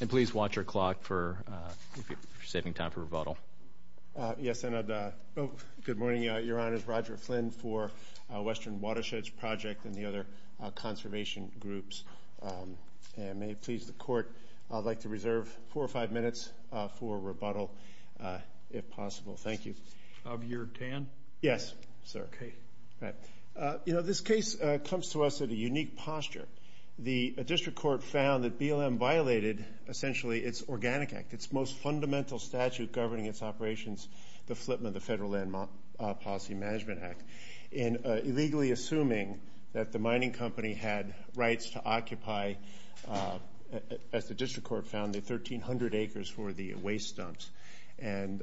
And please watch your clock for, if you're saving time for rebuttal. Yes, and good morning, Your Honors. Roger Flynn for Western Watersheds Project and the other conservation groups. And may it please the Court, I'd like to reserve four or five minutes for rebuttal, if possible. Thank you. Of your tan? Yes, sir. Okay. You know, this case comes to us at a unique posture. The district court found that BLM violated, essentially, its Organic Act, its most fundamental statute governing its operations, the Flipman, the Federal Land Policy Management Act, in illegally assuming that the mining company had rights to occupy, as the district court found, the 1,300 acres for the waste dumps. And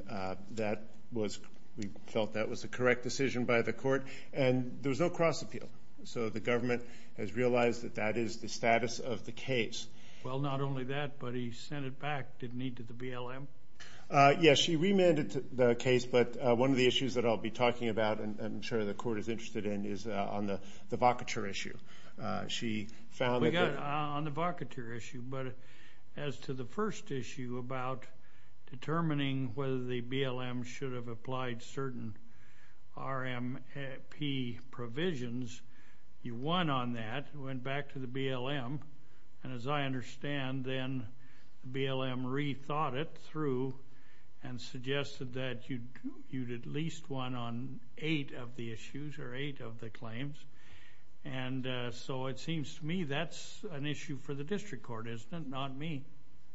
that was, we felt that was the correct decision by the court, and there was no cross-appeal. So the government has realized that that is the status of the case. Well, not only that, but he sent it back, didn't he, to the BLM? Yes, she remanded the case, but one of the issues that I'll be talking about, and I'm sure the court is interested in, is on the vocature issue. She found that... We got on the vocature issue, but as to the first issue about determining whether the BLM should have applied certain RMP provisions, you won on that, went back to the BLM, and as I understand, then the BLM rethought it through and suggested that you'd at least won on eight of the issues, or so it seems to me that's an issue for the district court, isn't it? Not me.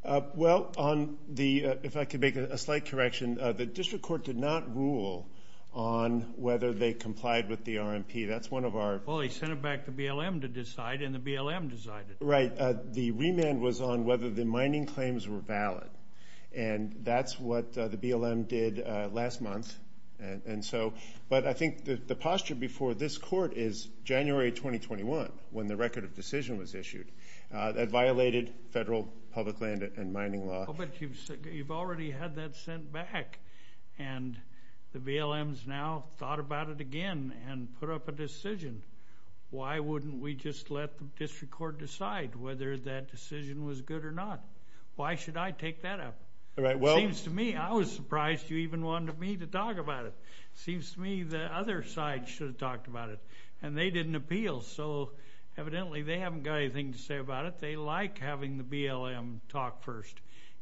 Well, on the, if I could make a slight correction, the district court did not rule on whether they complied with the RMP. That's one of our... Well, he sent it back to BLM to decide, and the BLM decided. Right. The remand was on whether the mining claims were valid, and that's what the BLM did last month. And so, but I before this court is January 2021, when the record of decision was issued, that violated federal public land and mining law. But you've already had that sent back, and the BLM's now thought about it again and put up a decision. Why wouldn't we just let the district court decide whether that decision was good or not? Why should I take that up? All right, well... It seems to me, I was surprised you even wanted me to talk about it. Seems to me the other side should have talked about it, and they didn't appeal. So evidently, they haven't got anything to say about it. They like having the BLM talk first.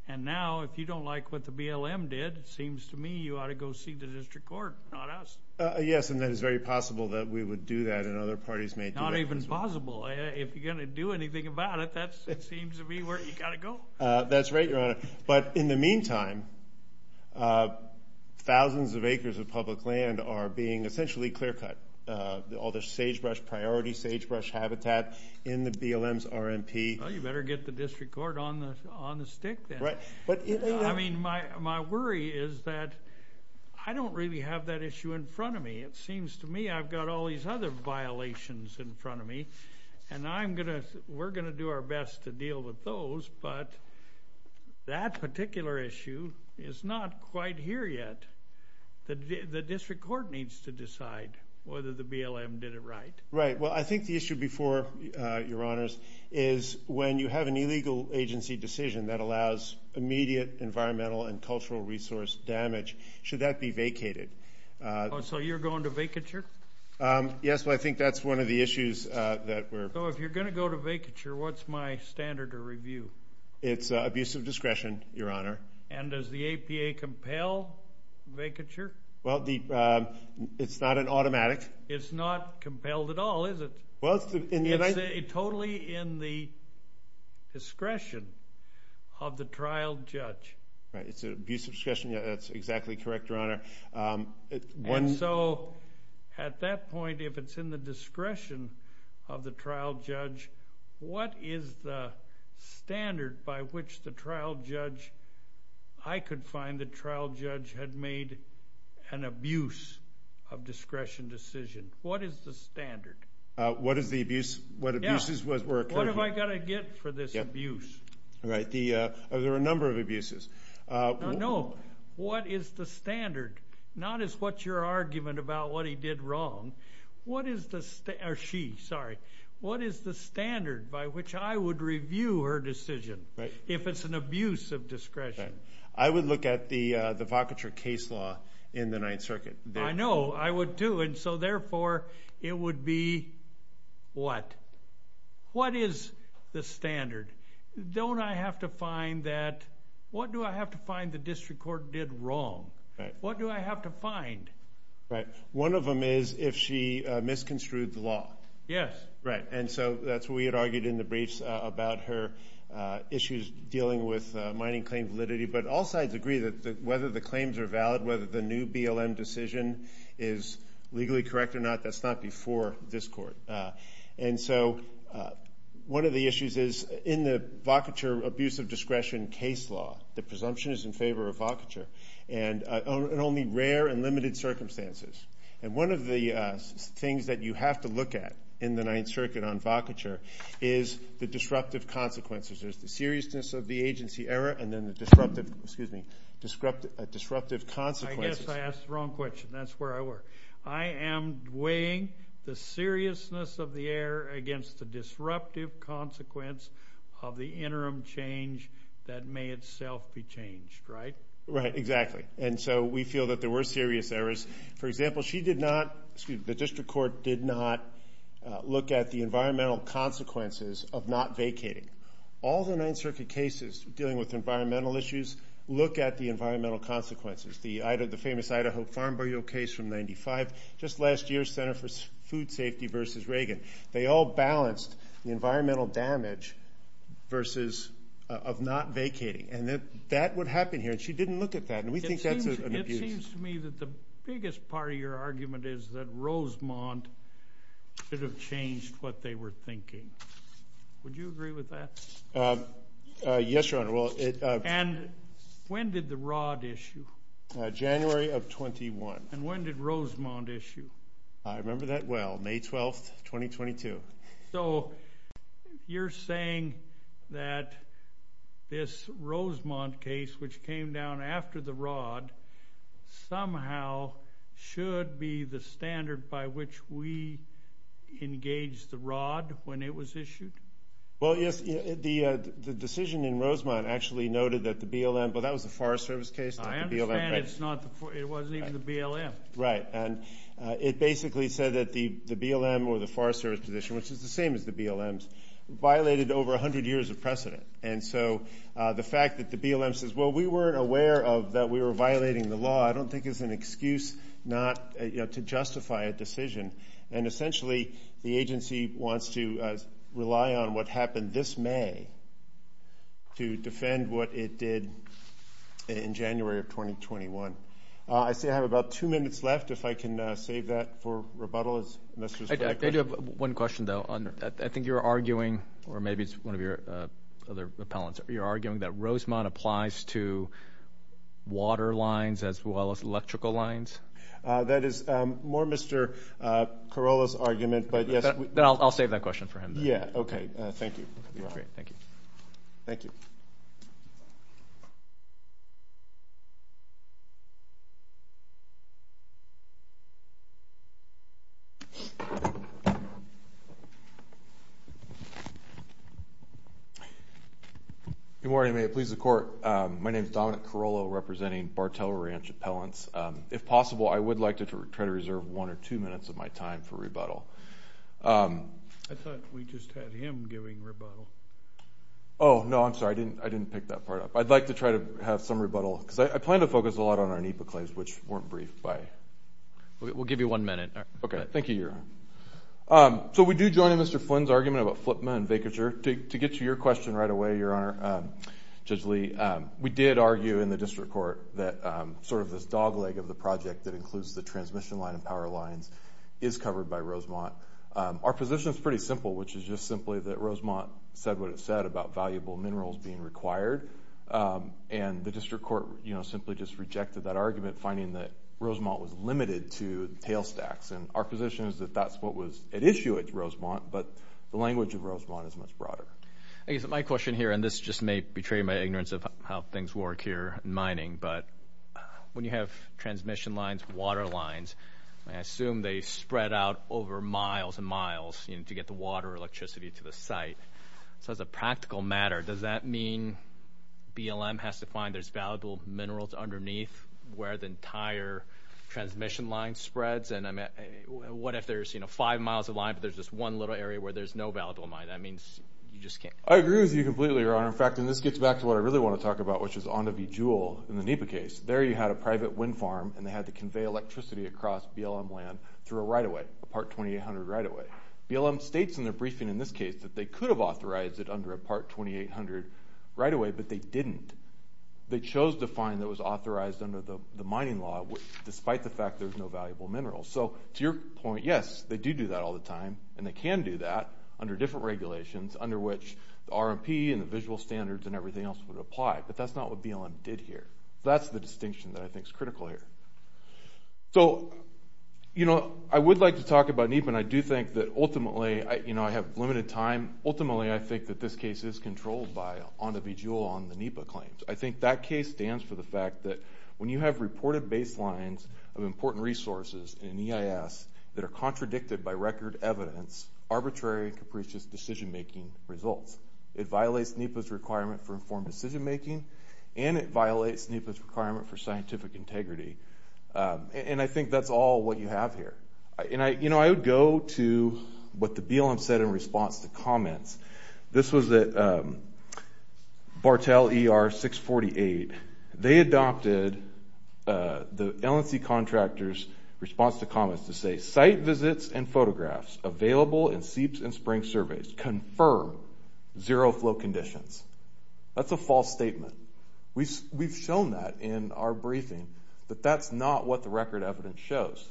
And now, if you don't like what the BLM did, it seems to me you ought to go see the district court, not us. Yes, and that is very possible that we would do that, and other parties may do that as well. Not even possible. If you're gonna do anything about it, that seems to be where you gotta go. That's right, Your Honor. But in the meantime, thousands of acres of public land are being essentially clear-cut. All the sagebrush priority, sagebrush habitat in the BLM's RMP. Well, you better get the district court on the on the stick then. Right, but... I mean, my worry is that I don't really have that issue in front of me. It seems to me I've got all these other violations in front of me, and I'm gonna, we're gonna do our best to deal with those, but that particular issue is not quite here yet. The district court needs to decide whether the BLM did it right. Right, well, I think the issue before, Your Honors, is when you have an illegal agency decision that allows immediate environmental and cultural resource damage, should that be vacated? So you're going to vacature? Yes, well, I go to vacature, what's my standard of review? It's abusive discretion, Your Honor. And does the APA compel vacature? Well, the, it's not an automatic. It's not compelled at all, is it? Well, it's totally in the discretion of the trial judge. Right, it's an abusive discretion, yeah, that's exactly correct, Your Honor. And so, at that point, if it's in the discretion of the trial judge, what is the standard by which the trial judge, I could find the trial judge had made an abuse of discretion decision? What is the standard? What is the abuse, what abuses were occurring? What have I got to get for this abuse? Right, the, there are a number of abuses. No, what is the standard? Not as what's your argument about what he did wrong, what is the, or she, sorry, what is the standard by which I would review her decision, if it's an abuse of discretion? I would look at the, the vacature case law in the Ninth Circuit. I know, I would too, and so therefore, it would be what? What is the standard? Don't I have to find that, what do I have to find the district court did wrong? What do I have to find? Right, one of them is if she misconstrued the law. Yes. Right, and so that's what we had argued in the briefs about her issues dealing with mining claim validity, but all sides agree that whether the claims are valid, whether the new BLM decision is legally correct or not, that's not before this court. And so, one of the presumptions is in favor of vacature, and only rare and limited circumstances. And one of the things that you have to look at in the Ninth Circuit on vacature is the disruptive consequences. There's the seriousness of the agency error, and then the disruptive, excuse me, disruptive, disruptive consequences. I guess I asked the wrong question, that's where I were. I am weighing the seriousness of the error against the disruptive consequence of the interim change that may itself be changed, right? Right, exactly. And so we feel that there were serious errors. For example, she did not, excuse me, the district court did not look at the environmental consequences of not vacating. All the Ninth Circuit cases dealing with environmental issues look at the environmental consequences. The famous Idaho farm burial case from 95, just last year, Center for Food Safety versus Reagan. They all balanced the environmental damage versus of not vacating. That would happen here, and she didn't look at that, and we think that's an abuse. It seems to me that the biggest part of your argument is that Rosemont should have changed what they were thinking. Would you agree with that? Yes, Your Honor. And when did the Rod issue? January of 21. And when did Rosemont issue? I remember that well, May 12th, 2022. So, you're saying that this Rosemont case, which came down after the Rod, somehow should be the standard by which we engage the Rod when it was issued? Well, yes, the decision in Rosemont actually noted that the BLM, but that was a Forest Service case. I understand it wasn't even the BLM. Right, and it basically said that the over a hundred years of precedent. And so, the fact that the BLM says, well, we weren't aware of that we were violating the law, I don't think it's an excuse not to justify a decision. And essentially, the agency wants to rely on what happened this May to defend what it did in January of 2021. I see I have about two minutes left, if I can save that for rebuttal. I do have one question, though. I think you're arguing, or maybe it's one of your other appellants, you're arguing that Rosemont applies to water lines as well as electrical lines? That is more Mr. Corolla's argument, but yes. I'll save that question for him. Yeah, okay, thank you. Thank you. Good morning, may it please the court. My name is Dominic Corolla, representing Bartell Ranch Appellants. If possible, I would like to try to reserve one or two minutes of my time for rebuttal. I thought we just had him giving rebuttal. Oh, no, I'm sorry. I didn't pick that part up. I'd like to try to have some rebuttal, because I plan to focus a lot on our NEPA claims, which weren't briefed We'll give you one minute. Okay, thank you, Your Honor. So we do join in Mr. Flynn's argument about Flipma and Vacature. To get to your question right away, Your Honor, Judge Lee, we did argue in the district court that sort of this dogleg of the project that includes the transmission line and power lines is covered by Rosemont. Our position is pretty simple, which is just simply that Rosemont said what it said about valuable minerals being required, and the Rosemont was limited to tailstacks, and our position is that that's what was at issue at Rosemont, but the language of Rosemont is much broader. Okay, so my question here, and this just may betray my ignorance of how things work here in mining, but when you have transmission lines, water lines, I assume they spread out over miles and miles, you know, to get the water or electricity to the site. So as a practical matter, does that mean BLM has to find there's valuable minerals underneath where the entire transmission line spreads, and what if there's, you know, five miles of line, but there's just one little area where there's no valuable mine? That means you just can't. I agree with you completely, Your Honor. In fact, and this gets back to what I really want to talk about, which is on to Bejeweled in the NEPA case. There you had a private wind farm, and they had to convey electricity across BLM land through a right-of-way, a Part 2800 right-of-way. BLM states in their briefing in this case that they could have authorized it under a Part 2800 right-of-way, but they didn't. They chose to find that was authorized under the mining law, despite the fact there's no valuable minerals. So to your point, yes, they do do that all the time, and they can do that under different regulations, under which the RMP and the visual standards and everything else would apply, but that's not what BLM did here. That's the distinction that I think is critical here. So, you know, I would like to talk about NEPA, and I do think that ultimately, you know, I have limited time. Ultimately, I think that this case is controlled by on to Bejeweled on the NEPA claims. I think that case stands for the fact that when you have reported baselines of important resources in EIS that are contradicted by record evidence, arbitrary and capricious decision-making results. It violates NEPA's requirement for informed decision-making, and it violates NEPA's requirement for scientific integrity, and I think that's all what you have here. And I, you know, I would go to what the BLM said in response to comments. This was that Martell ER 648, they adopted the LNC contractor's response to comments to say site visits and photographs available in seeps and springs surveys confirm zero flow conditions. That's a false statement. We've shown that in our briefing, but that's not what the record evidence shows.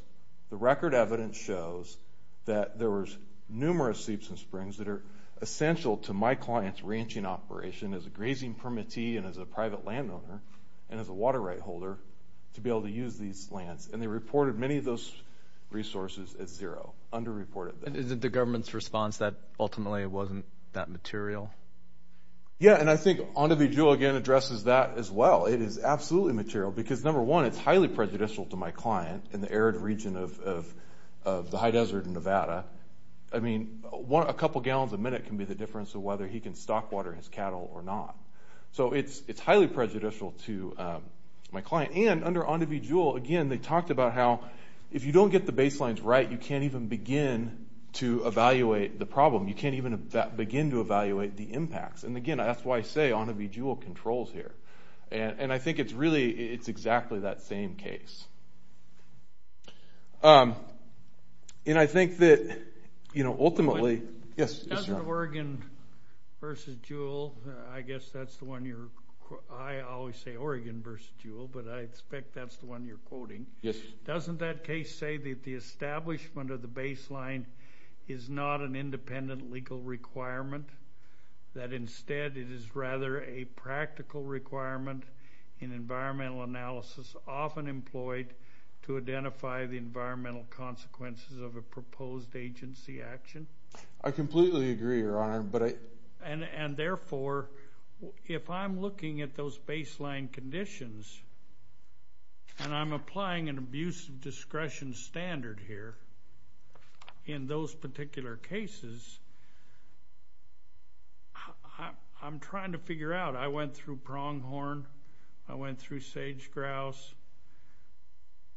The record evidence shows that there was numerous seeps and springs that are essential to my client's ability as a housing permittee, and as a private landowner, and as a water right holder, to be able to use these lands. And they reported many of those resources as zero, under-reported. And is it the government's response that ultimately it wasn't that material? Yeah, and I think on to Bejeweled again addresses that as well. It is absolutely material, because number one, it's highly prejudicial to my client in the arid region of the high desert in Nevada. I mean, a couple gallons a minute can be the difference of whether he can stock water his cattle or not. So it's highly prejudicial to my client. And under on to Bejeweled, again, they talked about how if you don't get the baselines right, you can't even begin to evaluate the problem. You can't even begin to evaluate the impacts. And again, that's why I say on to Bejeweled controls here. And I think it's really, it's exactly that same case. And I think that, you know, ultimately, yes, Oregon versus Jewell, I guess that's the one you're, I always say Oregon versus Jewell, but I expect that's the one you're quoting. Yes. Doesn't that case say that the establishment of the baseline is not an independent legal requirement, that instead it is rather a to identify the environmental consequences of a proposed agency action? I completely agree, Your Honor, but I... And therefore, if I'm looking at those baseline conditions, and I'm applying an abuse of discretion standard here in those particular cases, I'm trying to figure out, I went through Pronghorn,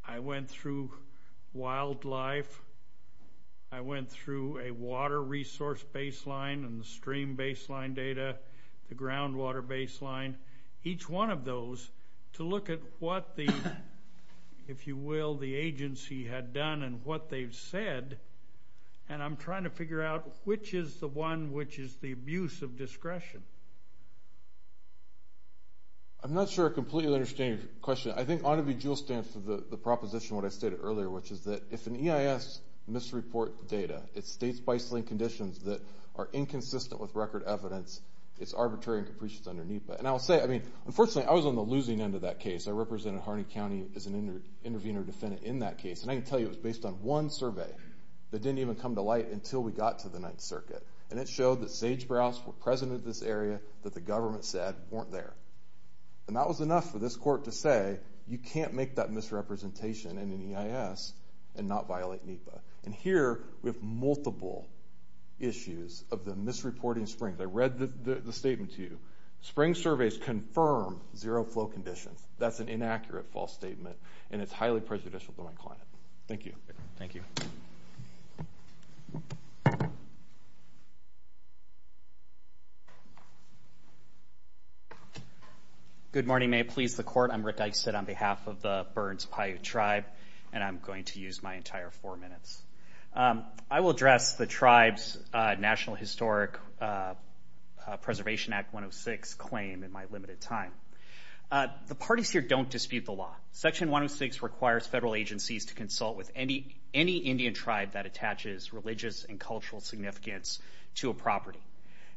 I went through wildlife, I went through a water resource baseline and the stream baseline data, the groundwater baseline, each one of those to look at what the, if you will, the agency had done and what they've said, and I'm trying to figure out which is the one which is the abuse of discretion. I'm not sure I completely understand your question. I think on to Bejeweled stands for the proposition what I stated earlier, which is that if an EIS misreport data, it states baseline conditions that are inconsistent with record evidence, it's arbitrary and capricious under NEPA. And I'll say, I mean, unfortunately, I was on the losing end of that case. I represented Harney County as an intervener defendant in that case, and I can tell you it was based on one survey that didn't even come to light until we got to the Ninth Circuit, and it showed that sage-brows were present in this area that the government said weren't there. And that was enough for this court to say, you can't make that misrepresentation in an EIS and not violate NEPA. And here, we have multiple issues of the misreporting springs. I read the statement to you. Spring surveys confirm zero flow conditions. That's an inaccurate false statement, and it's highly prejudicial to my client. Thank you. Thank you. Good morning. May it please the court. I'm Rick Dysett on behalf of the Burns Paiute Tribe, and I'm going to use my entire four minutes. I will address the tribe's National Historic Preservation Act 106 claim in my limited time. The parties here don't dispute the law. Section 106 requires federal agencies to consult with any Indian tribe that attaches religious and cultural significance to a property.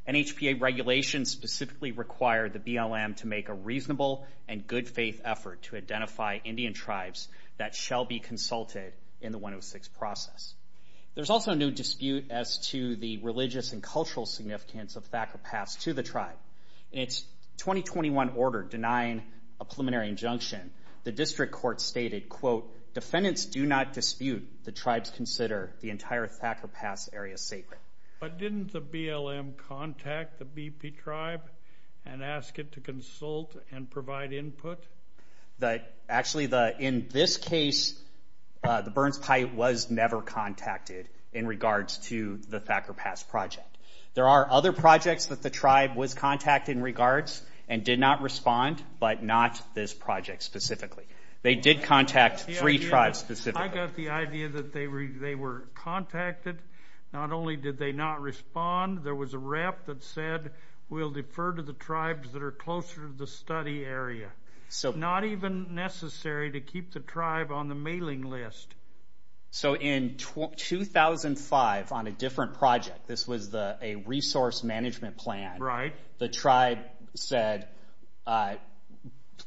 NHPA regulations specifically require the BLM to make a reasonable and good faith effort to identify Indian tribes that shall be consulted in the 106 process. There's also no dispute as to the religious and cultural significance of Thacker Pass to the tribe. In its 2021 order denying a preliminary injunction, the district court stated, Defendants do not dispute. The tribes consider the entire Thacker Pass area sacred. But didn't the BLM contact the BP tribe and ask it to consult and provide input? Actually, in this case, the Burns Paiute was never contacted in regards to the Thacker Pass project. There are other projects that the tribe was contacted in regards and did not respond, but not this project specifically. They did contact three tribes specifically. I got the idea that they were contacted. Not only did they not respond, there was a rep that said, We'll defer to the tribes that are closer to the study area. It's not even necessary to keep the tribe on the mailing list. So in 2005, on a different project, this was a resource management plan, the tribe said,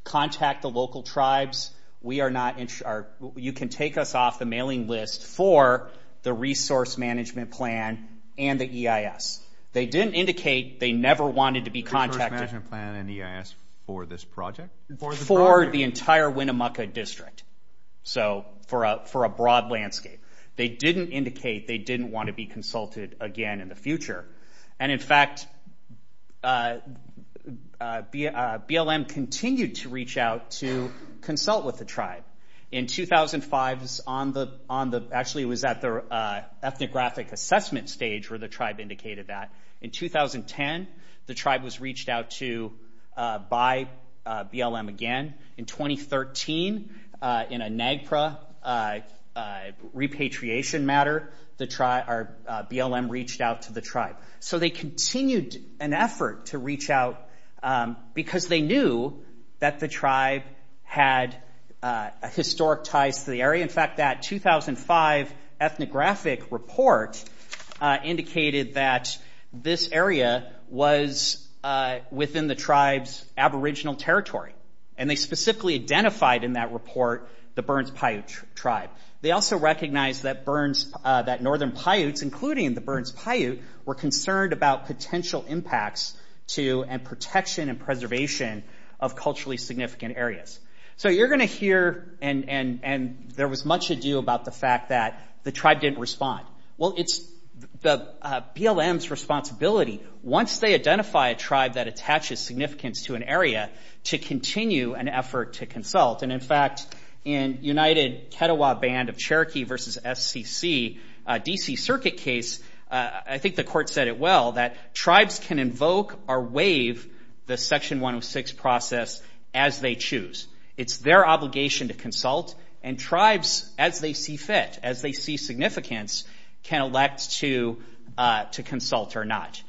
Contact the local tribes. You can take us off the mailing list for the resource management plan and the EIS. They didn't indicate they never wanted to be contacted. The resource management plan and EIS for this project? For the entire Winnemucca district. So for a broad landscape. They didn't indicate they didn't want to be consulted again in the future. And in fact, BLM continued to reach out to consult with the tribe. In 2005, actually it was at the ethnographic assessment stage where the tribe indicated that. In 2010, the tribe was reached out to by BLM again. In 2013, in a NAGPRA repatriation matter, BLM reached out to the tribe. So they continued an effort to reach out because they knew that the tribe had historic ties to the area. In fact, that 2005 ethnographic report indicated that this area was within the tribe's aboriginal territory. And they specifically identified in that report the Burns Paiute tribe. They also recognized that Northern Paiutes, including the Burns Paiute, were concerned about potential impacts to, and protection and preservation of culturally significant areas. So you're gonna hear, and there was much ado about the fact that the tribe didn't respond. Well, it's the BLM's responsibility, once they identify a tribe that attaches significance to an area, to continue an effort to consult. And in fact, in United Ketewa Band of Cherokee versus SCC, a DC circuit case, I think the court said it well, that tribes can invoke or waive the Section 106 process as they choose. It's their obligation to consult, and tribes, as they see fit, as they see significance, can elect to consult or not.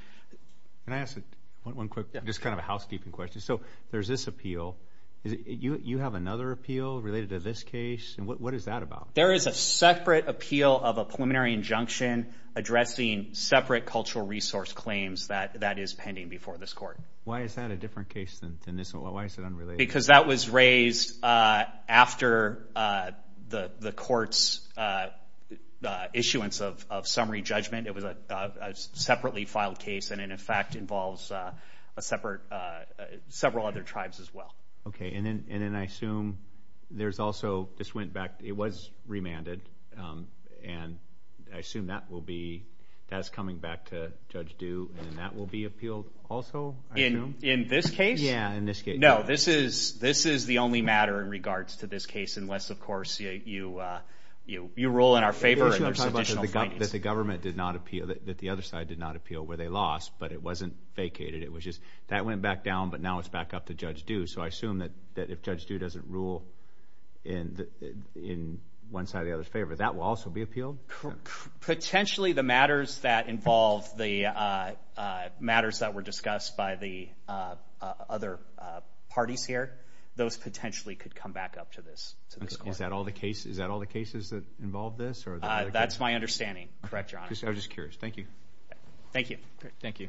Can I ask one quick, just kind of a housekeeping question? So there's this appeal. You have another appeal related to this case? And what is that about? There is a separate appeal of a preliminary injunction addressing separate cultural resource claims that is pending before this court. Why is that a different case than this one? Why is it unrelated? Because that was raised after the court's issuance of summary judgment. It was a separately filed case, and in fact, involves several other tribes as well. Okay. And then I assume there's also... This went back... It was remanded, and I assume that will be... That's coming back to Judge Due, and that will be appealed also, I assume? In this case? Yeah, in this case. No, this is the only matter in regards to this case, unless, of course, you rule in our favor and there's additional findings. You're talking about that the government did not appeal where they lost, but it wasn't vacated. It was just... That went back down, but now it's back up to Judge Due. So I assume that if Judge Due doesn't rule in one side or the other's favor, that will also be appealed? Potentially, the matters that involve the... Matters that were discussed by the other parties here, those potentially could come back up to this court. Is that all the cases that involve this? That's my conclusion. Thank you. Thank you.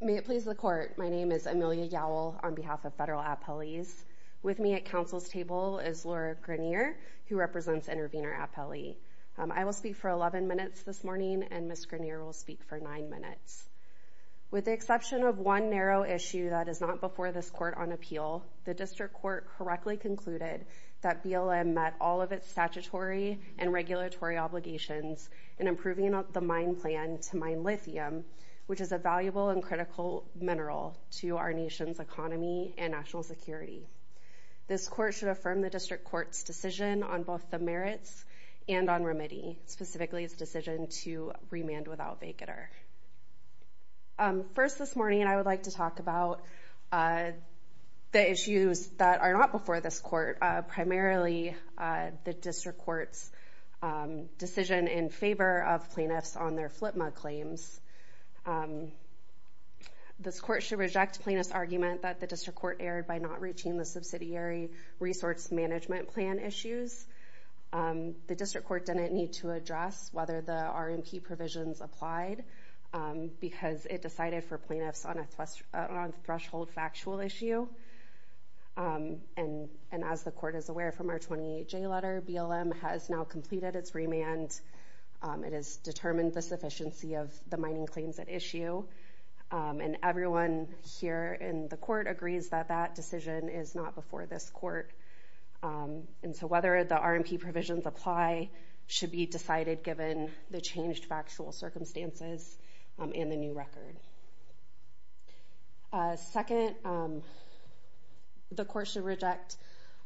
May it please the court. My name is Amelia Yowell on behalf of Federal Appellees. With me at Council's table is Laura Grenier, who represents Intervenor Appellee. I will speak for 11 minutes this morning, and Ms. Grenier will speak for nine minutes. With the exception of one narrow issue that is not before this court on appeal, the District Court correctly concluded that BLM met all of its statutory and regulatory obligations in improving the mine plan to mine lithium, which is a valuable and critical mineral to our nation's economy and national security. This court should affirm the District Court's decision on both the and to remand without vacater. First this morning, I would like to talk about the issues that are not before this court, primarily the District Court's decision in favor of plaintiffs on their FLTMA claims. This court should reject plaintiff's argument that the District Court erred by not reaching the subsidiary resource management plan issues. The District Court didn't need to address whether the RMP provisions applied because it decided for plaintiffs on a threshold factual issue. And as the court is aware from our 28J letter, BLM has now completed its remand. It has determined the sufficiency of the mining claims at issue, and everyone here in the court agrees that that decision is not before this court. And so whether the RMP provisions apply should be decided given the changed factual circumstances and the new record. Second, the court should reject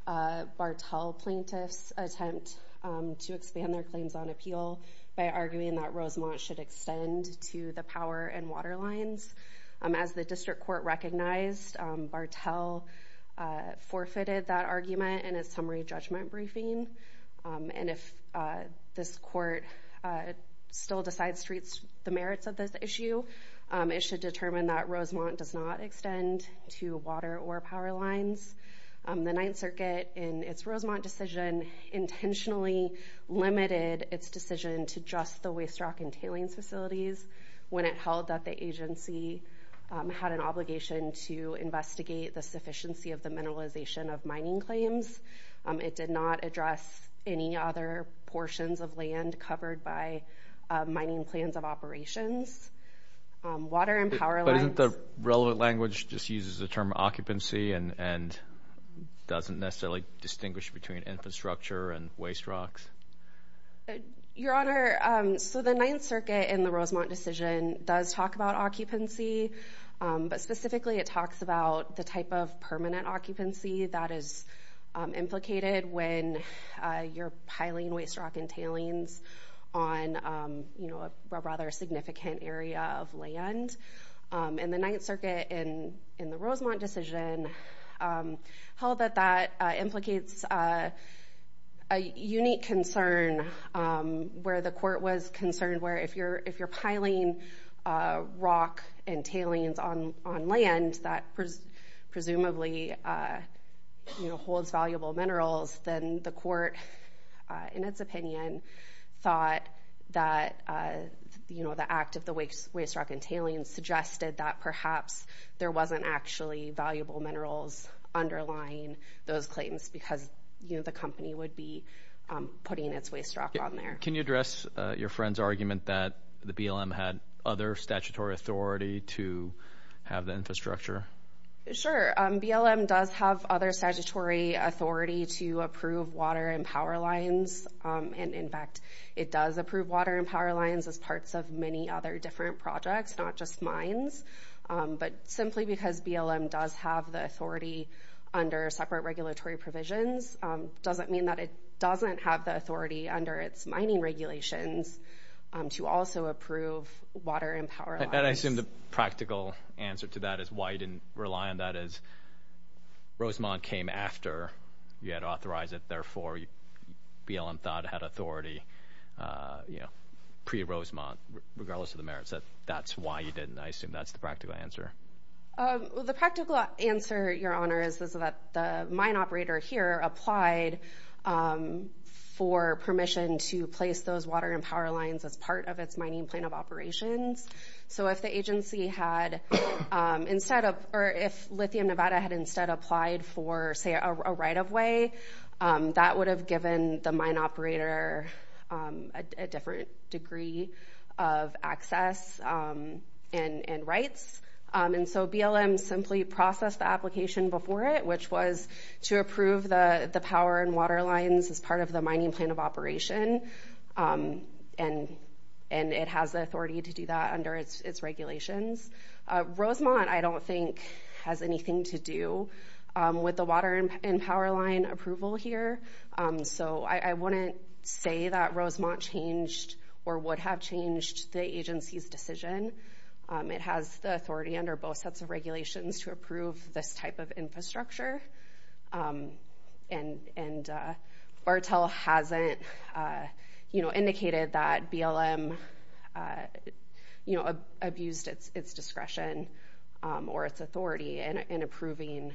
Bartell plaintiff's attempt to expand their claims on appeal by arguing that Rosemont should extend to the power and water lines. As the District Court recognized, Bartell forfeited that argument in a summary judgment briefing. And if this court still decides to treat the merits of this issue, it should determine that Rosemont does not extend to water or power lines. The Ninth Circuit, in its Rosemont decision, intentionally limited its decision to just the waste rock and water. It did not recall that the agency had an obligation to investigate the sufficiency of the mineralization of mining claims. It did not address any other portions of land covered by mining plans of operations. Water and power lines... But isn't the relevant language just uses the term occupancy and doesn't necessarily distinguish between infrastructure and waste rocks? Your Honor, so the Ninth Circuit in the Rosemont decision does talk about occupancy, but specifically it talks about the type of permanent occupancy that is implicated when you're piling waste rock and tailings on a rather significant area of land. And the Ninth Circuit in the Rosemont decision held that that implicates a unique concern where the court was concerned where if you're piling rock and tailings on land that presumably holds valuable minerals, then the court, in its opinion, thought that the act of the waste rock and tailings suggested that perhaps there wasn't actually valuable minerals underlying those claims because the company would be putting its waste rock on there. Can you address your friend's argument that the BLM had other statutory authority to have the infrastructure? Sure. BLM does have other statutory authority to approve water and power lines. And in fact, it does approve water and power lines as parts of many other different projects, not just mines. But simply because BLM does have the authority under separate regulatory provisions doesn't mean that it doesn't have the authority under its mining regulations to also approve water and power lines. And I assume the practical answer to that is why you didn't rely on that is Rosemont came after you had authorized it. Therefore, BLM thought it had authority, you know, pre-Rosemont regardless of the merits. That's why you didn't. I assume that's the practical answer. The practical answer, Your Honor, is that the mine operator here applied for permission to place those water and power lines as part of its mining plan of operations. So if the agency had instead of... Or if Lithium Nevada had instead applied for, say, a right of way, that would have given the agency a right of access and rights. And so BLM simply processed the application before it, which was to approve the power and water lines as part of the mining plan of operation. And it has the authority to do that under its regulations. Rosemont, I don't think, has anything to do with the water and power line approval here. So I wouldn't say that Rosemont changed or would have changed the agency's decision. It has the authority under both sets of regulations to approve this type of infrastructure. And Bartel hasn't indicated that BLM abused its discretion or its authority in approving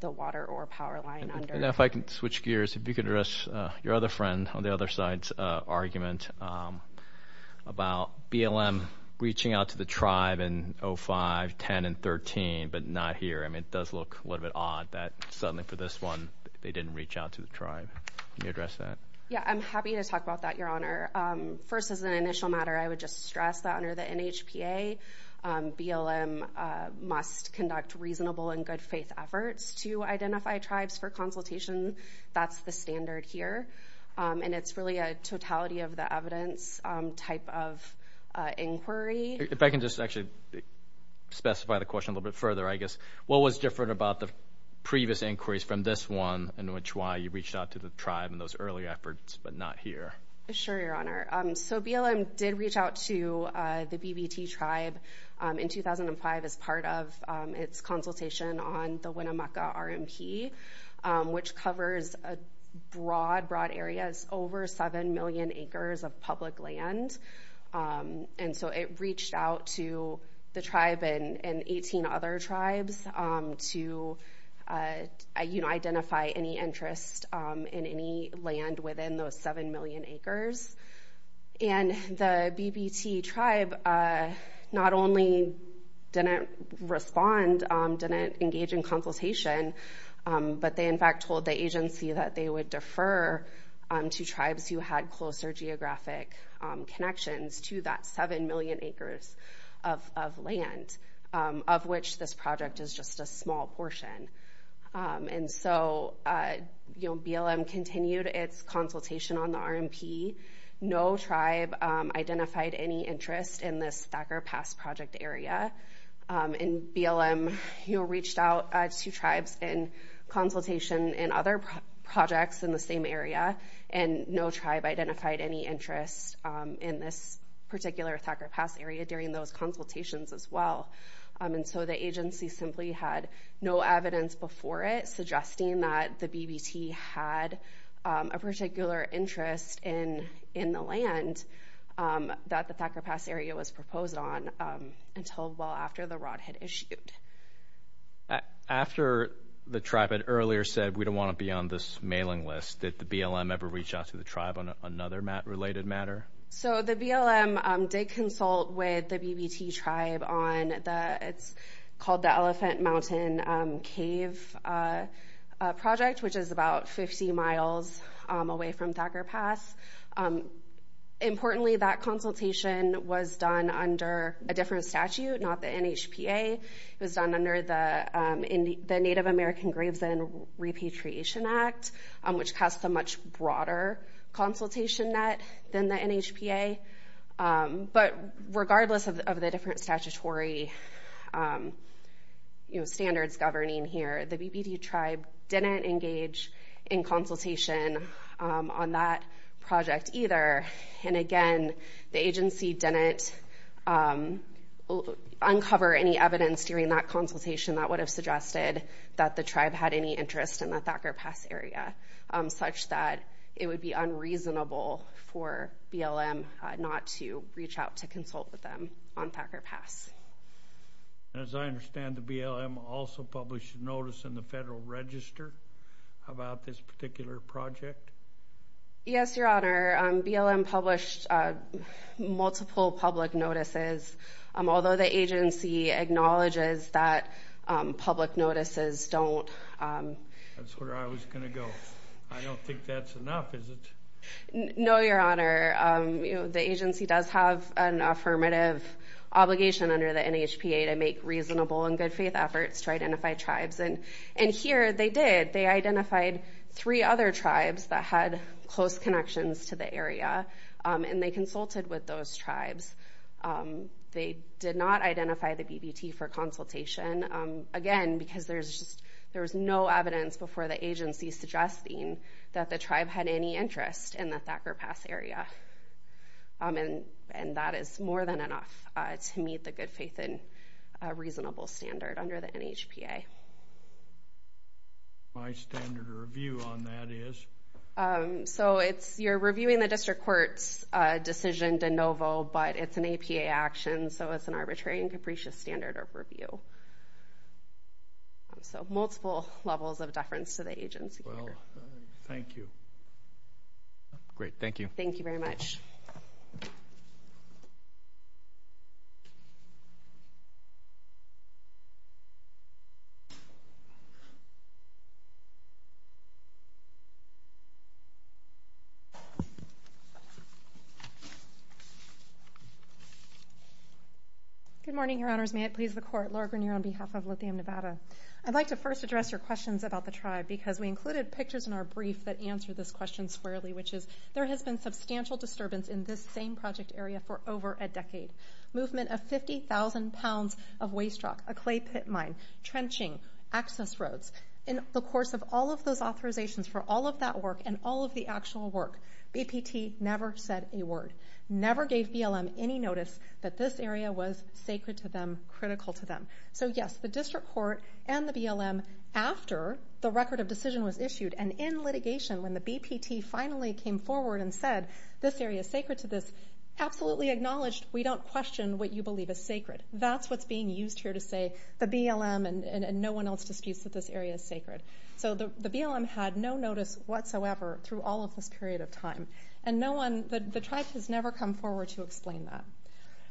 the water or power line under... And if I can switch gears, if you could address your other friend on the other side's argument about BLM reaching out to the tribe in 05, 10, and 13, but not here. I mean, it does look a little bit odd that suddenly for this one, they didn't reach out to the tribe. Can you address that? Yeah, I'm happy to talk about that, Your Honor. First, as an initial matter, I would just stress that under the NHPA, BLM must conduct reasonable and good faith efforts to identify tribes for consultation. That's the standard here. And it's really a totality of the evidence type of inquiry. If I can just actually specify the question a little bit further, I guess, what was different about the previous inquiries from this one in which why you reached out to the tribe in those early efforts, but not here? Sure, Your Honor. So BLM did reach out to the BBT tribe in 2005 as part of its consultation on the Winnemucca RMP, which covers a broad, broad area. It's over 7 million acres of public land. And so it reached out to the tribe and 18 other tribes to identify any interest in any land within those 7 million acres. And the BBT tribe not only didn't respond, didn't engage in consultation, but they, in fact, told the agency that they would defer to tribes who had closer geographic connections to that 7 million acres of land, of which this project is just a small portion. And so BLM continued its consultation on the RMP. No tribe identified any interest in this Thacker Pass project area. And BLM reached out to tribes in consultation in other projects in the same area, and no tribe identified any interest in this particular Thacker Pass area during those consultations as well. And so the agency simply had no evidence before it suggesting that the BBT had a particular interest in the land that the Thacker Pass area was proposed on until well after the rod had issued. After the tribe had earlier said, we don't want to be on this mailing list, did the BLM ever reach out to the tribe on another related matter? So the BLM did consult with the BBT tribe on the... It's called the Elephant Mountain Cave Project, which is about 50 miles away from Thacker Pass. Importantly, that consultation was done under a different statute, not the NHPA. It was done under the Native American Graves End Repatriation Act, which casts a much broader consultation net than the NHPA. But regardless of the different statutory standards governing here, the BBT tribe didn't engage in consultation on that project either. And again, the agency didn't uncover any evidence during that consultation that would have suggested that the tribe had any interest in the Thacker Pass area, such that it would be unreasonable for BLM not to reach out to consult with them on Thacker Pass. And as I understand, the BLM also published a notice in the Federal Register about this particular project? Yes, Your Honor. BLM published multiple public notices. Although the agency acknowledges that public notices don't... That's where I was gonna go. I don't think that's enough, is it? No, Your Honor. The agency does have an affirmative obligation under the NHPA to make reasonable and good faith efforts to identify tribes. And here, they did. They identified three other tribes that had close connections to the area, and they consulted with those tribes. They did not identify the BBT for consultation. Again, because there was no evidence before the agency suggesting that the tribe had any interest in the Thacker Pass area. And that is more than enough to meet the good faith and reasonable standard under the NHPA. My standard of review on that is? So it's... You're reviewing the district court's decision de novo, but it's an APA action, so it's an arbitrary and capricious standard of review. So multiple levels of deference to the agency. Well, thank you. Great, thank you. Thank you very much. Good morning, Your Honors. May it please the court. Laura Grenier on behalf of Lithium Nevada. I'd like to first address your questions about the tribe, because we included pictures in our brief that answer this question squarely, which is, there has been substantial disturbance in this same project area for over a decade. Movement of 50,000 pounds of waste rock, a clay pit mine, trenching, access roads. In the course of all of those authorizations for all of that work and all of the work, the district court never said a word, never gave BLM any notice that this area was sacred to them, critical to them. So yes, the district court and the BLM, after the record of decision was issued and in litigation, when the BPT finally came forward and said, this area is sacred to this, absolutely acknowledged, we don't question what you believe is sacred. That's what's being used here to say, the BLM and no one else disputes that this area is sacred. So the BLM had no notice whatsoever through all of this period of time. The tribe has never come forward to explain that.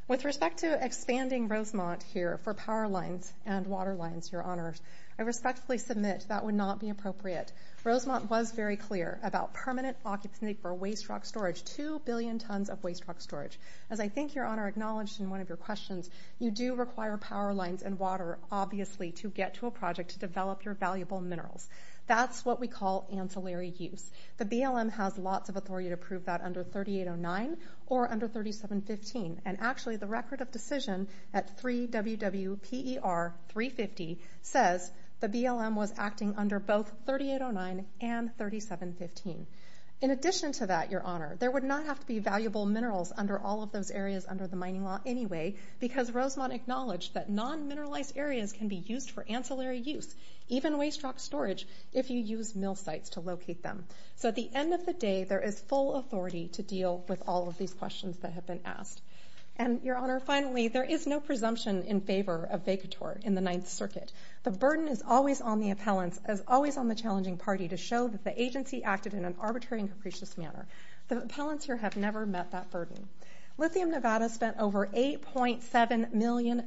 With respect to expanding Rosemont here for power lines and water lines, Your Honor, I respectfully submit that would not be appropriate. Rosemont was very clear about permanent occupancy for waste rock storage, 2 billion tons of waste rock storage. As I think Your Honor acknowledged in one of your questions, you do require power lines and water, obviously, to get to a project to develop your valuable minerals. That's what we call ancillary use. The BLM has lots of authority to prove that under 3809 or under 3715. And actually, the record of decision at 3WWPER350 says the BLM was acting under both 3809 and 3715. In addition to that, Your Honor, there would not have to be valuable minerals under all of those areas under the mining law anyway, because Rosemont acknowledged that non mineralized areas can be used for ancillary use, even waste rock storage, if you use mill sites to locate them. So at the end of the day, there is full authority to deal with all of these questions that have been asked. And Your Honor, finally, there is no presumption in favor of Vacator in the Ninth Circuit. The burden is always on the appellants, as always on the challenging party to show that the agency acted in an arbitrary and capricious manner. The appellants here have never met that burden. Lithium Nevada spent over $8.7 million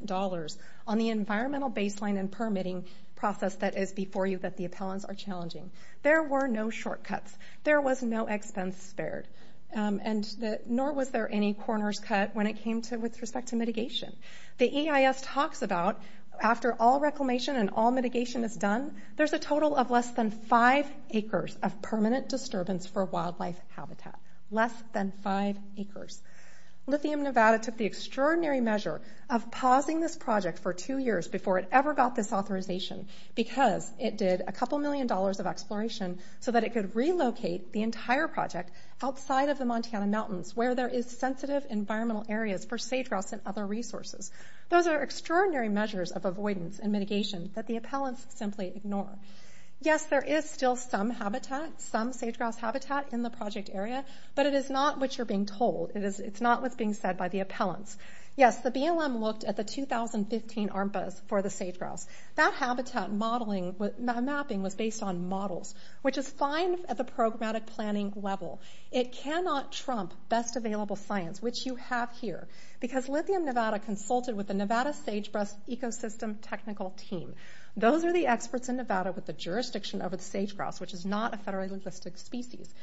on the environmental baseline and permitting process that is before you, that the appellants are challenging. There were no shortcuts. There was no expense spared, and nor was there any corners cut when it came to with respect to mitigation. The EIS talks about, after all reclamation and all mitigation is done, there's a total of less than five acres of permanent disturbance for wildlife habitat. Less than five acres. Lithium Nevada took the extraordinary measure of pausing this project for two years before it ever got this authorization, because it did a couple million dollars of exploration so that it could relocate the entire project outside of the Montana mountains, where there is sensitive environmental areas for sage grouse and other resources. Those are extraordinary measures of avoidance and mitigation that the appellants simply ignore. Yes, there is still some habitat, some sage grouse habitat in the project area, but it is not what is being said by the appellants. Yes, the BLM looked at the 2015 armpits for the sage grouse. That habitat mapping was based on models, which is fine at the programmatic planning level. It cannot trump best available science, which you have here, because Lithium Nevada consulted with the Nevada Sagebrush Ecosystem Technical Team. Those are the experts in Nevada with the jurisdiction over the sage grouse, which is not a federally listed species.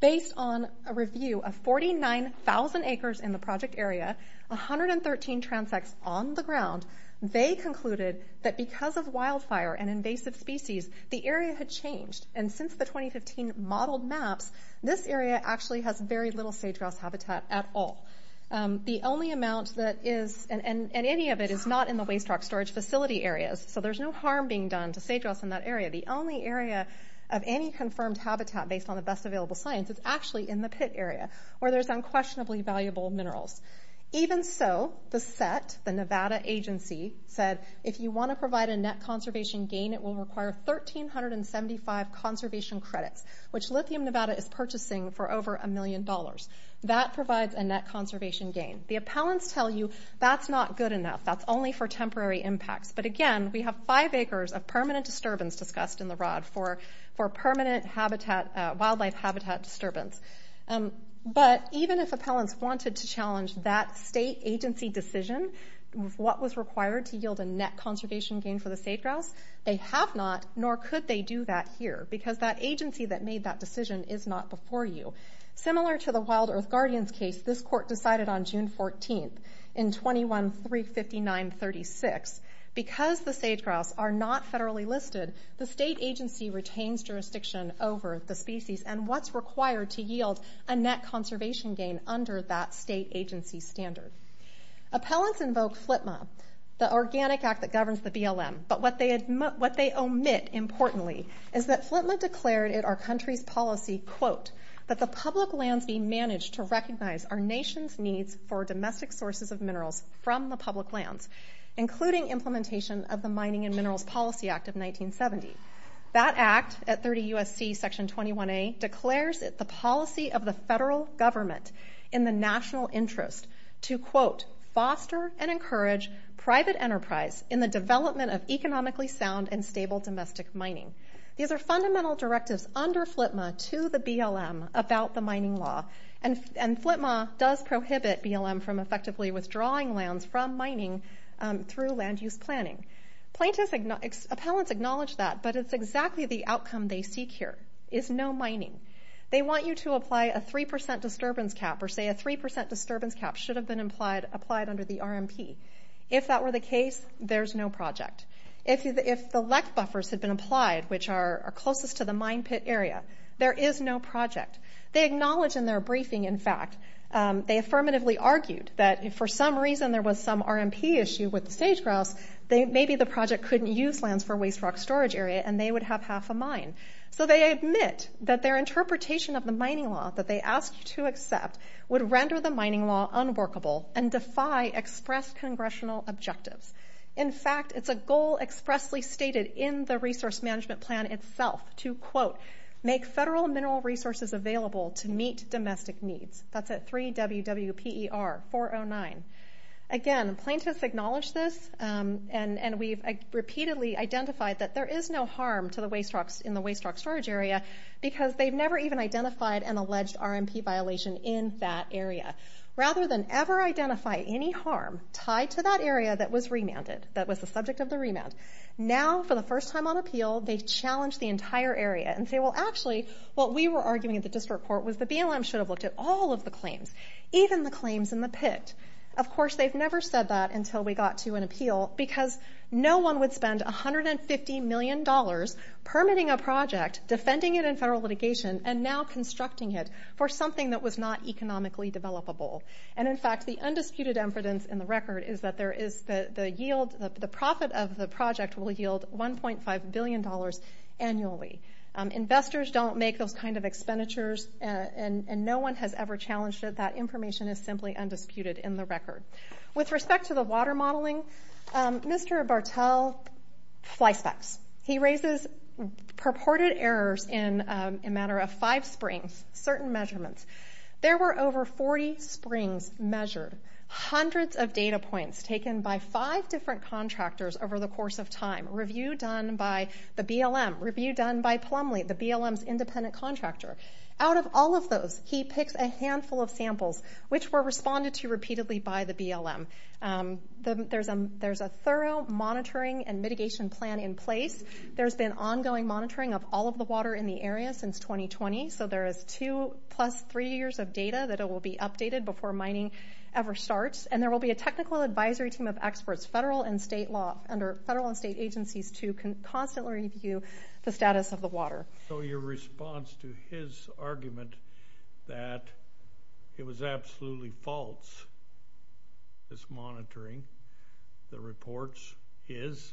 Based on a review of 49,000 acres in the project area, 113 transects on the ground, they concluded that because of wildfire and invasive species, the area had changed. And since the 2015 modeled maps, this area actually has very little sage grouse habitat at all. The only amount that is, and any of it, is not in the waste rock storage facility areas. So there's no harm being done to sage grouse in that area. The only area of any confirmed habitat, based on the best available science, is actually in the pit area, where there's unquestionably valuable minerals. Even so, the set, the Nevada agency, said, if you want to provide a net conservation gain, it will require 1,375 conservation credits, which Lithium Nevada is purchasing for over a million dollars. That provides a net conservation gain. The appellants tell you, that's not good enough, that's only for temporary impacts. But again, we have five acres of permanent disturbance discussed in the rod for permanent wildlife habitat disturbance. But even if appellants wanted to challenge that state agency decision, what was required to yield a net conservation gain for the sage grouse, they have not, nor could they do that here, because that agency that made that decision is not before you. Similar to the Wild Earth Guardians case, this court decided on June 14th, in 21.359.36, because the sage grouse are not federally listed, the state agency retains jurisdiction over the species, and what's required to yield a net conservation gain under that state agency standard. Appellants invoke FLTMA, the organic act that governs the BLM. But what they omit, importantly, is that FLTMA declared in our country's policy, quote, that the public lands be managed to recognize our nation's needs for domestic sources of minerals from the public lands, including implementation of the Mining and Minerals Policy Act of 1970. That act, at 30 U.S.C. Section 21A, declares the policy of the federal government in the national interest to, quote, foster and encourage private enterprise in the development of economically sound and stable domestic mining. These are fundamental directives under FLTMA to the BLM about the BLM from effectively withdrawing lands from mining through land use planning. Plaintiffs... Appellants acknowledge that, but it's exactly the outcome they seek here, is no mining. They want you to apply a 3% disturbance cap, or say a 3% disturbance cap should have been applied under the RMP. If that were the case, there's no project. If the LEC buffers had been applied, which are closest to the mine pit area, there is no project. They acknowledge in their briefing, in fact, they affirmatively argued that if for some reason there was some RMP issue with the stage grouse, maybe the project couldn't use lands for waste rock storage area and they would have half a mine. So they admit that their interpretation of the mining law that they asked to accept would render the mining law unworkable and defy expressed congressional objectives. In fact, it's a goal expressly stated in the resource management plan itself to, quote, make federal mineral resources available to meet domestic needs. That's at 3WWPER 409. Again, plaintiffs acknowledge this and we've repeatedly identified that there is no harm to the waste rocks in the waste rock storage area, because they've never even identified an alleged RMP violation in that area. Rather than ever identify any harm tied to that area that was remanded, that was the subject of the remand. Now, for the first time on appeal, they challenge the entire area and say, well, actually, what we were arguing at the district court was the yield of the claims, even the claims in the pit. Of course, they've never said that until we got to an appeal, because no one would spend $150 million permitting a project, defending it in federal litigation, and now constructing it for something that was not economically developable. And in fact, the undisputed evidence in the record is that there is the yield, the profit of the project will yield $1.5 billion annually. Investors don't make those kind of expenditures and no one has ever challenged it. That information is simply undisputed in the record. With respect to the water modeling, Mr. Bartell fly specs. He raises purported errors in a matter of five springs, certain measurements. There were over 40 springs measured, hundreds of data points taken by five different contractors over the course of time, review done by the BLM, review done by Plumlee, the BLM's independent contractor. Out of all of those, he picks a handful of samples, which were responded to repeatedly by the BLM. There's a thorough monitoring and mitigation plan in place. There's been ongoing monitoring of all of the water in the area since 2020, so there is two plus three years of data that will be updated before mining ever starts. And there will be a technical advisory team of experts, federal and state law, under federal and state agencies, to constantly review the status of the water. So your response to his argument that it was absolutely false, this monitoring, the reports, is?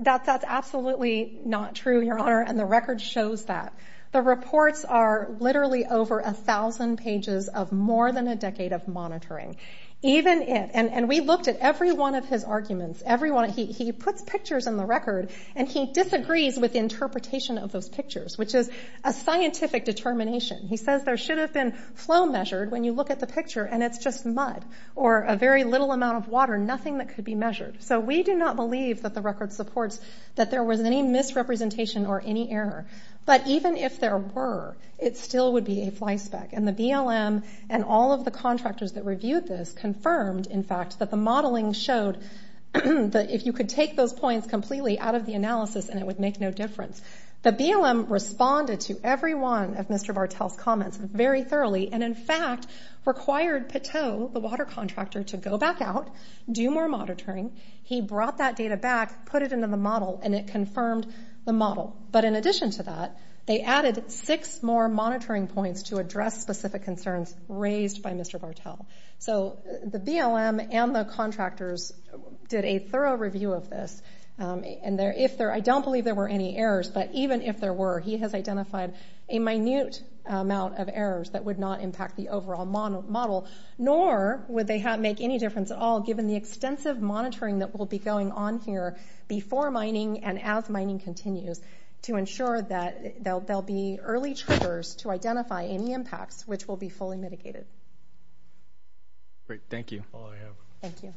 That's absolutely not true, Your Honor, and the record shows that. The reports are literally over 1,000 pages of more than a decade of monitoring. Even if... And we looked at every one of his arguments, every one. He puts pictures in the record and he disagrees with the interpretation of those pictures, which is a scientific determination. He says there should have been flow measured when you look at the picture and it's just mud, or a very little amount of water, nothing that could be measured. So we do not believe that the record supports that there was any misrepresentation or any error. But even if there were, it still would be a fly speck. And the BLM and all of the contractors that reviewed this confirmed, in fact, that the modeling showed that if you could take those points completely out of the analysis and it would make no difference. The BLM responded to every one of Mr. Bartel's comments very thoroughly, and in fact, required Pateau, the water contractor, to go back out, do more monitoring. He brought that data back, put it into the model, and it confirmed the model. But in addition to that, they added six more monitoring points to address specific concerns raised by Mr. Bartel. So the BLM and the contractors did a thorough review of this, and if there... I don't believe there were any errors, but even if there were, he has identified a minute amount of errors that would not impact the overall model, nor would they make any difference at all, given the extensive monitoring that will be going on here before mining and as mining continues, to ensure that there'll be early triggers to identify any impacts, which will be fully mitigated. Great. Thank you. That's all I have. Thank you.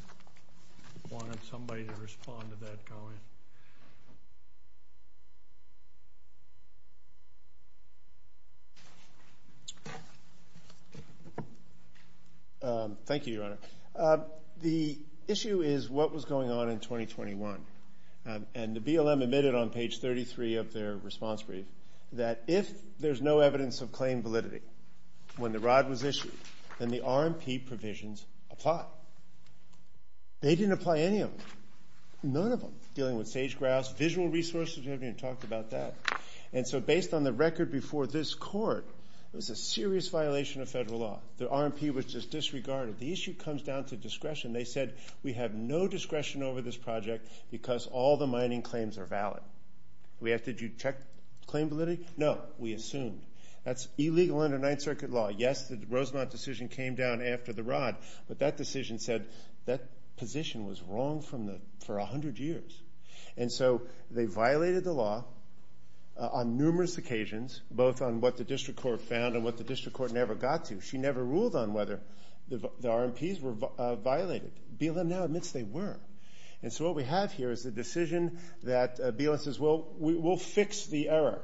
I wanted somebody to respond to that. Go ahead. Thank you, Your Honor. The issue is what was going on in 2021. And the BLM admitted on page 33 of their response brief that if there's no evidence of claim validity when the ROD was issued, then the RMP provisions apply. They didn't apply any of them, none of them, dealing with sage grass, visual resources, we haven't even talked about that. And so based on the record before this court, it was a serious violation of federal law. The RMP was just disregarded. The issue comes down to discretion. They said, we have no discretion over this project because all the mining claims are valid. Did you check claim validity? No, we assumed. That's illegal under Ninth Circuit law. Yes, the Rosemont decision came down after the ROD, but that decision said that position was wrong for 100 years. And so they violated the law on numerous occasions, both on what the district court found and what the district court never got to. She never ruled on whether the RMPs were violated. BLM now admits they were. And so what we have here is a decision that BLM says, well, we'll fix the error.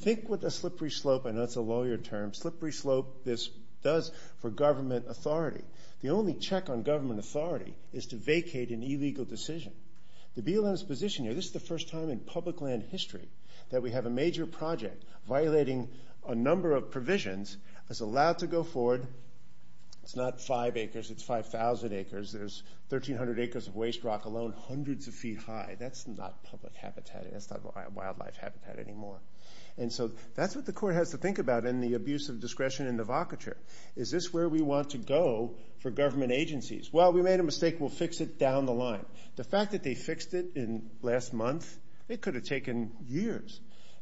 Think what the slippery slope, I know it's a lawyer term, slippery slope this does for government authority. The only check on government authority is to vacate an illegal decision. The BLM's position here, this is the first time in public land history that we have a major project violating a number of provisions that's allowed to go forward. It's not five acres, it's 5,000 acres. There's 1,300 acres of waste rock alone, hundreds of feet high. That's not public habitat, that's not wildlife habitat anymore. And so that's what the court has to think about in the abuse of discretion in the vocature. Is this where we want to go for government agencies? Well, we made a mistake, we'll fix it down the line. The fact that they fixed it last month, it could have taken years.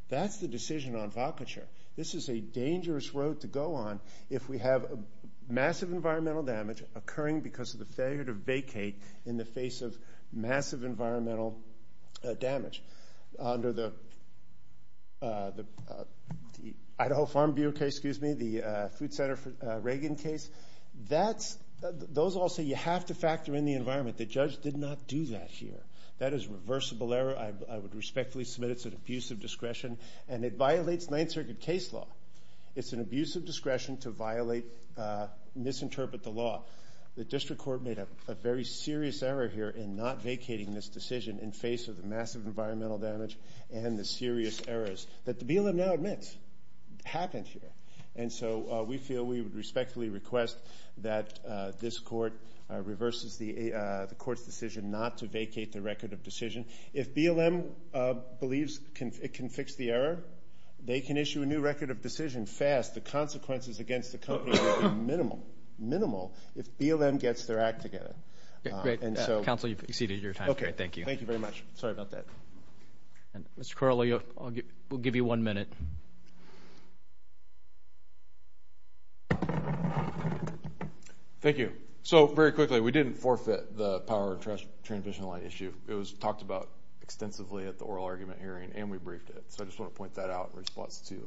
That's the decision on vocature. This is a dangerous road to go on if we have massive environmental damage occurring because of the failure to vacate in the face of massive environmental damage. Under the Idaho Farm Bureau case, excuse me, the Food Center for Reagan case, those all say you have to factor in the environment. The judge did not do that here. That is a reversible error, I would respectfully submit it's an abuse of discretion, and it violates Ninth Circuit case law. It's an abuse of discretion to violate, misinterpret the law. The district court made a very serious error here in not vacating this decision in face of the massive environmental damage and the serious errors that the BLM now admits happened here. And so we feel we would respectfully request that this court reverses the court's decision not to vacate the record of decision. If BLM believes it can fix the error, they can issue a new record of decision fast. The consequences against the company will be minimal. If BLM gets their act together. Yeah, great. Counsel, you've exceeded your time. Okay, thank you. Thank you very much. Sorry about that. And Mr. Corley, we'll give you one minute. Thank you. So very quickly, we didn't forfeit the power and trust transition line issue. It was talked about extensively at the oral argument hearing and we briefed it. So I just wanna point that out in response to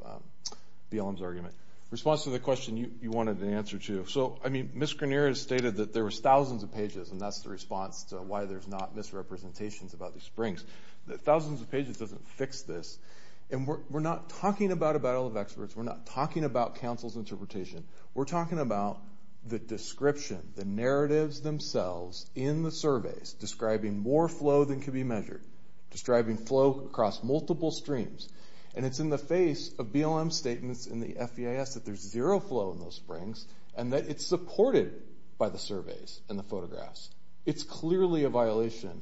BLM's argument. Response to the question you wanted an answer to. So, I mean, Ms. Grenier has stated that there was thousands of pages and that's the response to why there's not misrepresentations about these springs. That thousands of pages doesn't fix this. And we're not talking about a battle of experts. We're not talking about counsel's interpretation. We're talking about the description, the narratives themselves in the surveys describing more flow than can be measured. Describing flow across multiple streams. And it's in the face of BLM's statements in the FEIS that there's zero flow in those springs and that it's supported by the surveys and the photographs. It's clearly a violation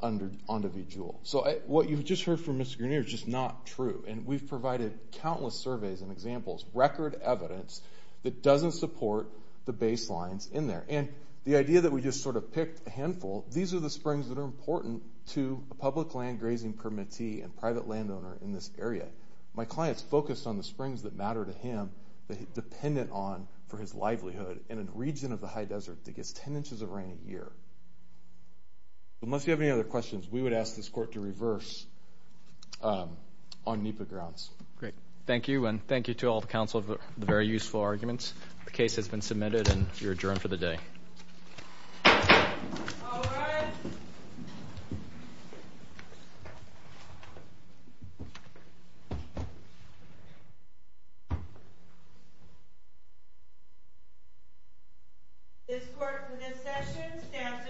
on to be dual. So what you've just heard from Ms. Grenier is just not true. And we've provided countless surveys and examples, record evidence that doesn't support the baselines in there. And the idea that we just sort of picked a handful, these are the springs that are important to a public land grazing permittee and private landowner in this area. My client's focused on the springs that matter to him, that he's dependent on for his livelihood in a region of the high desert that gets 10 inches of rain a year. So unless you have any other questions, we would ask this court to reverse on NEPA grounds. Great. Thank you and thank you to all the council for the very useful arguments. The case has been submitted and you're adjourned for the day. Okay. This court for this session stands adjourned.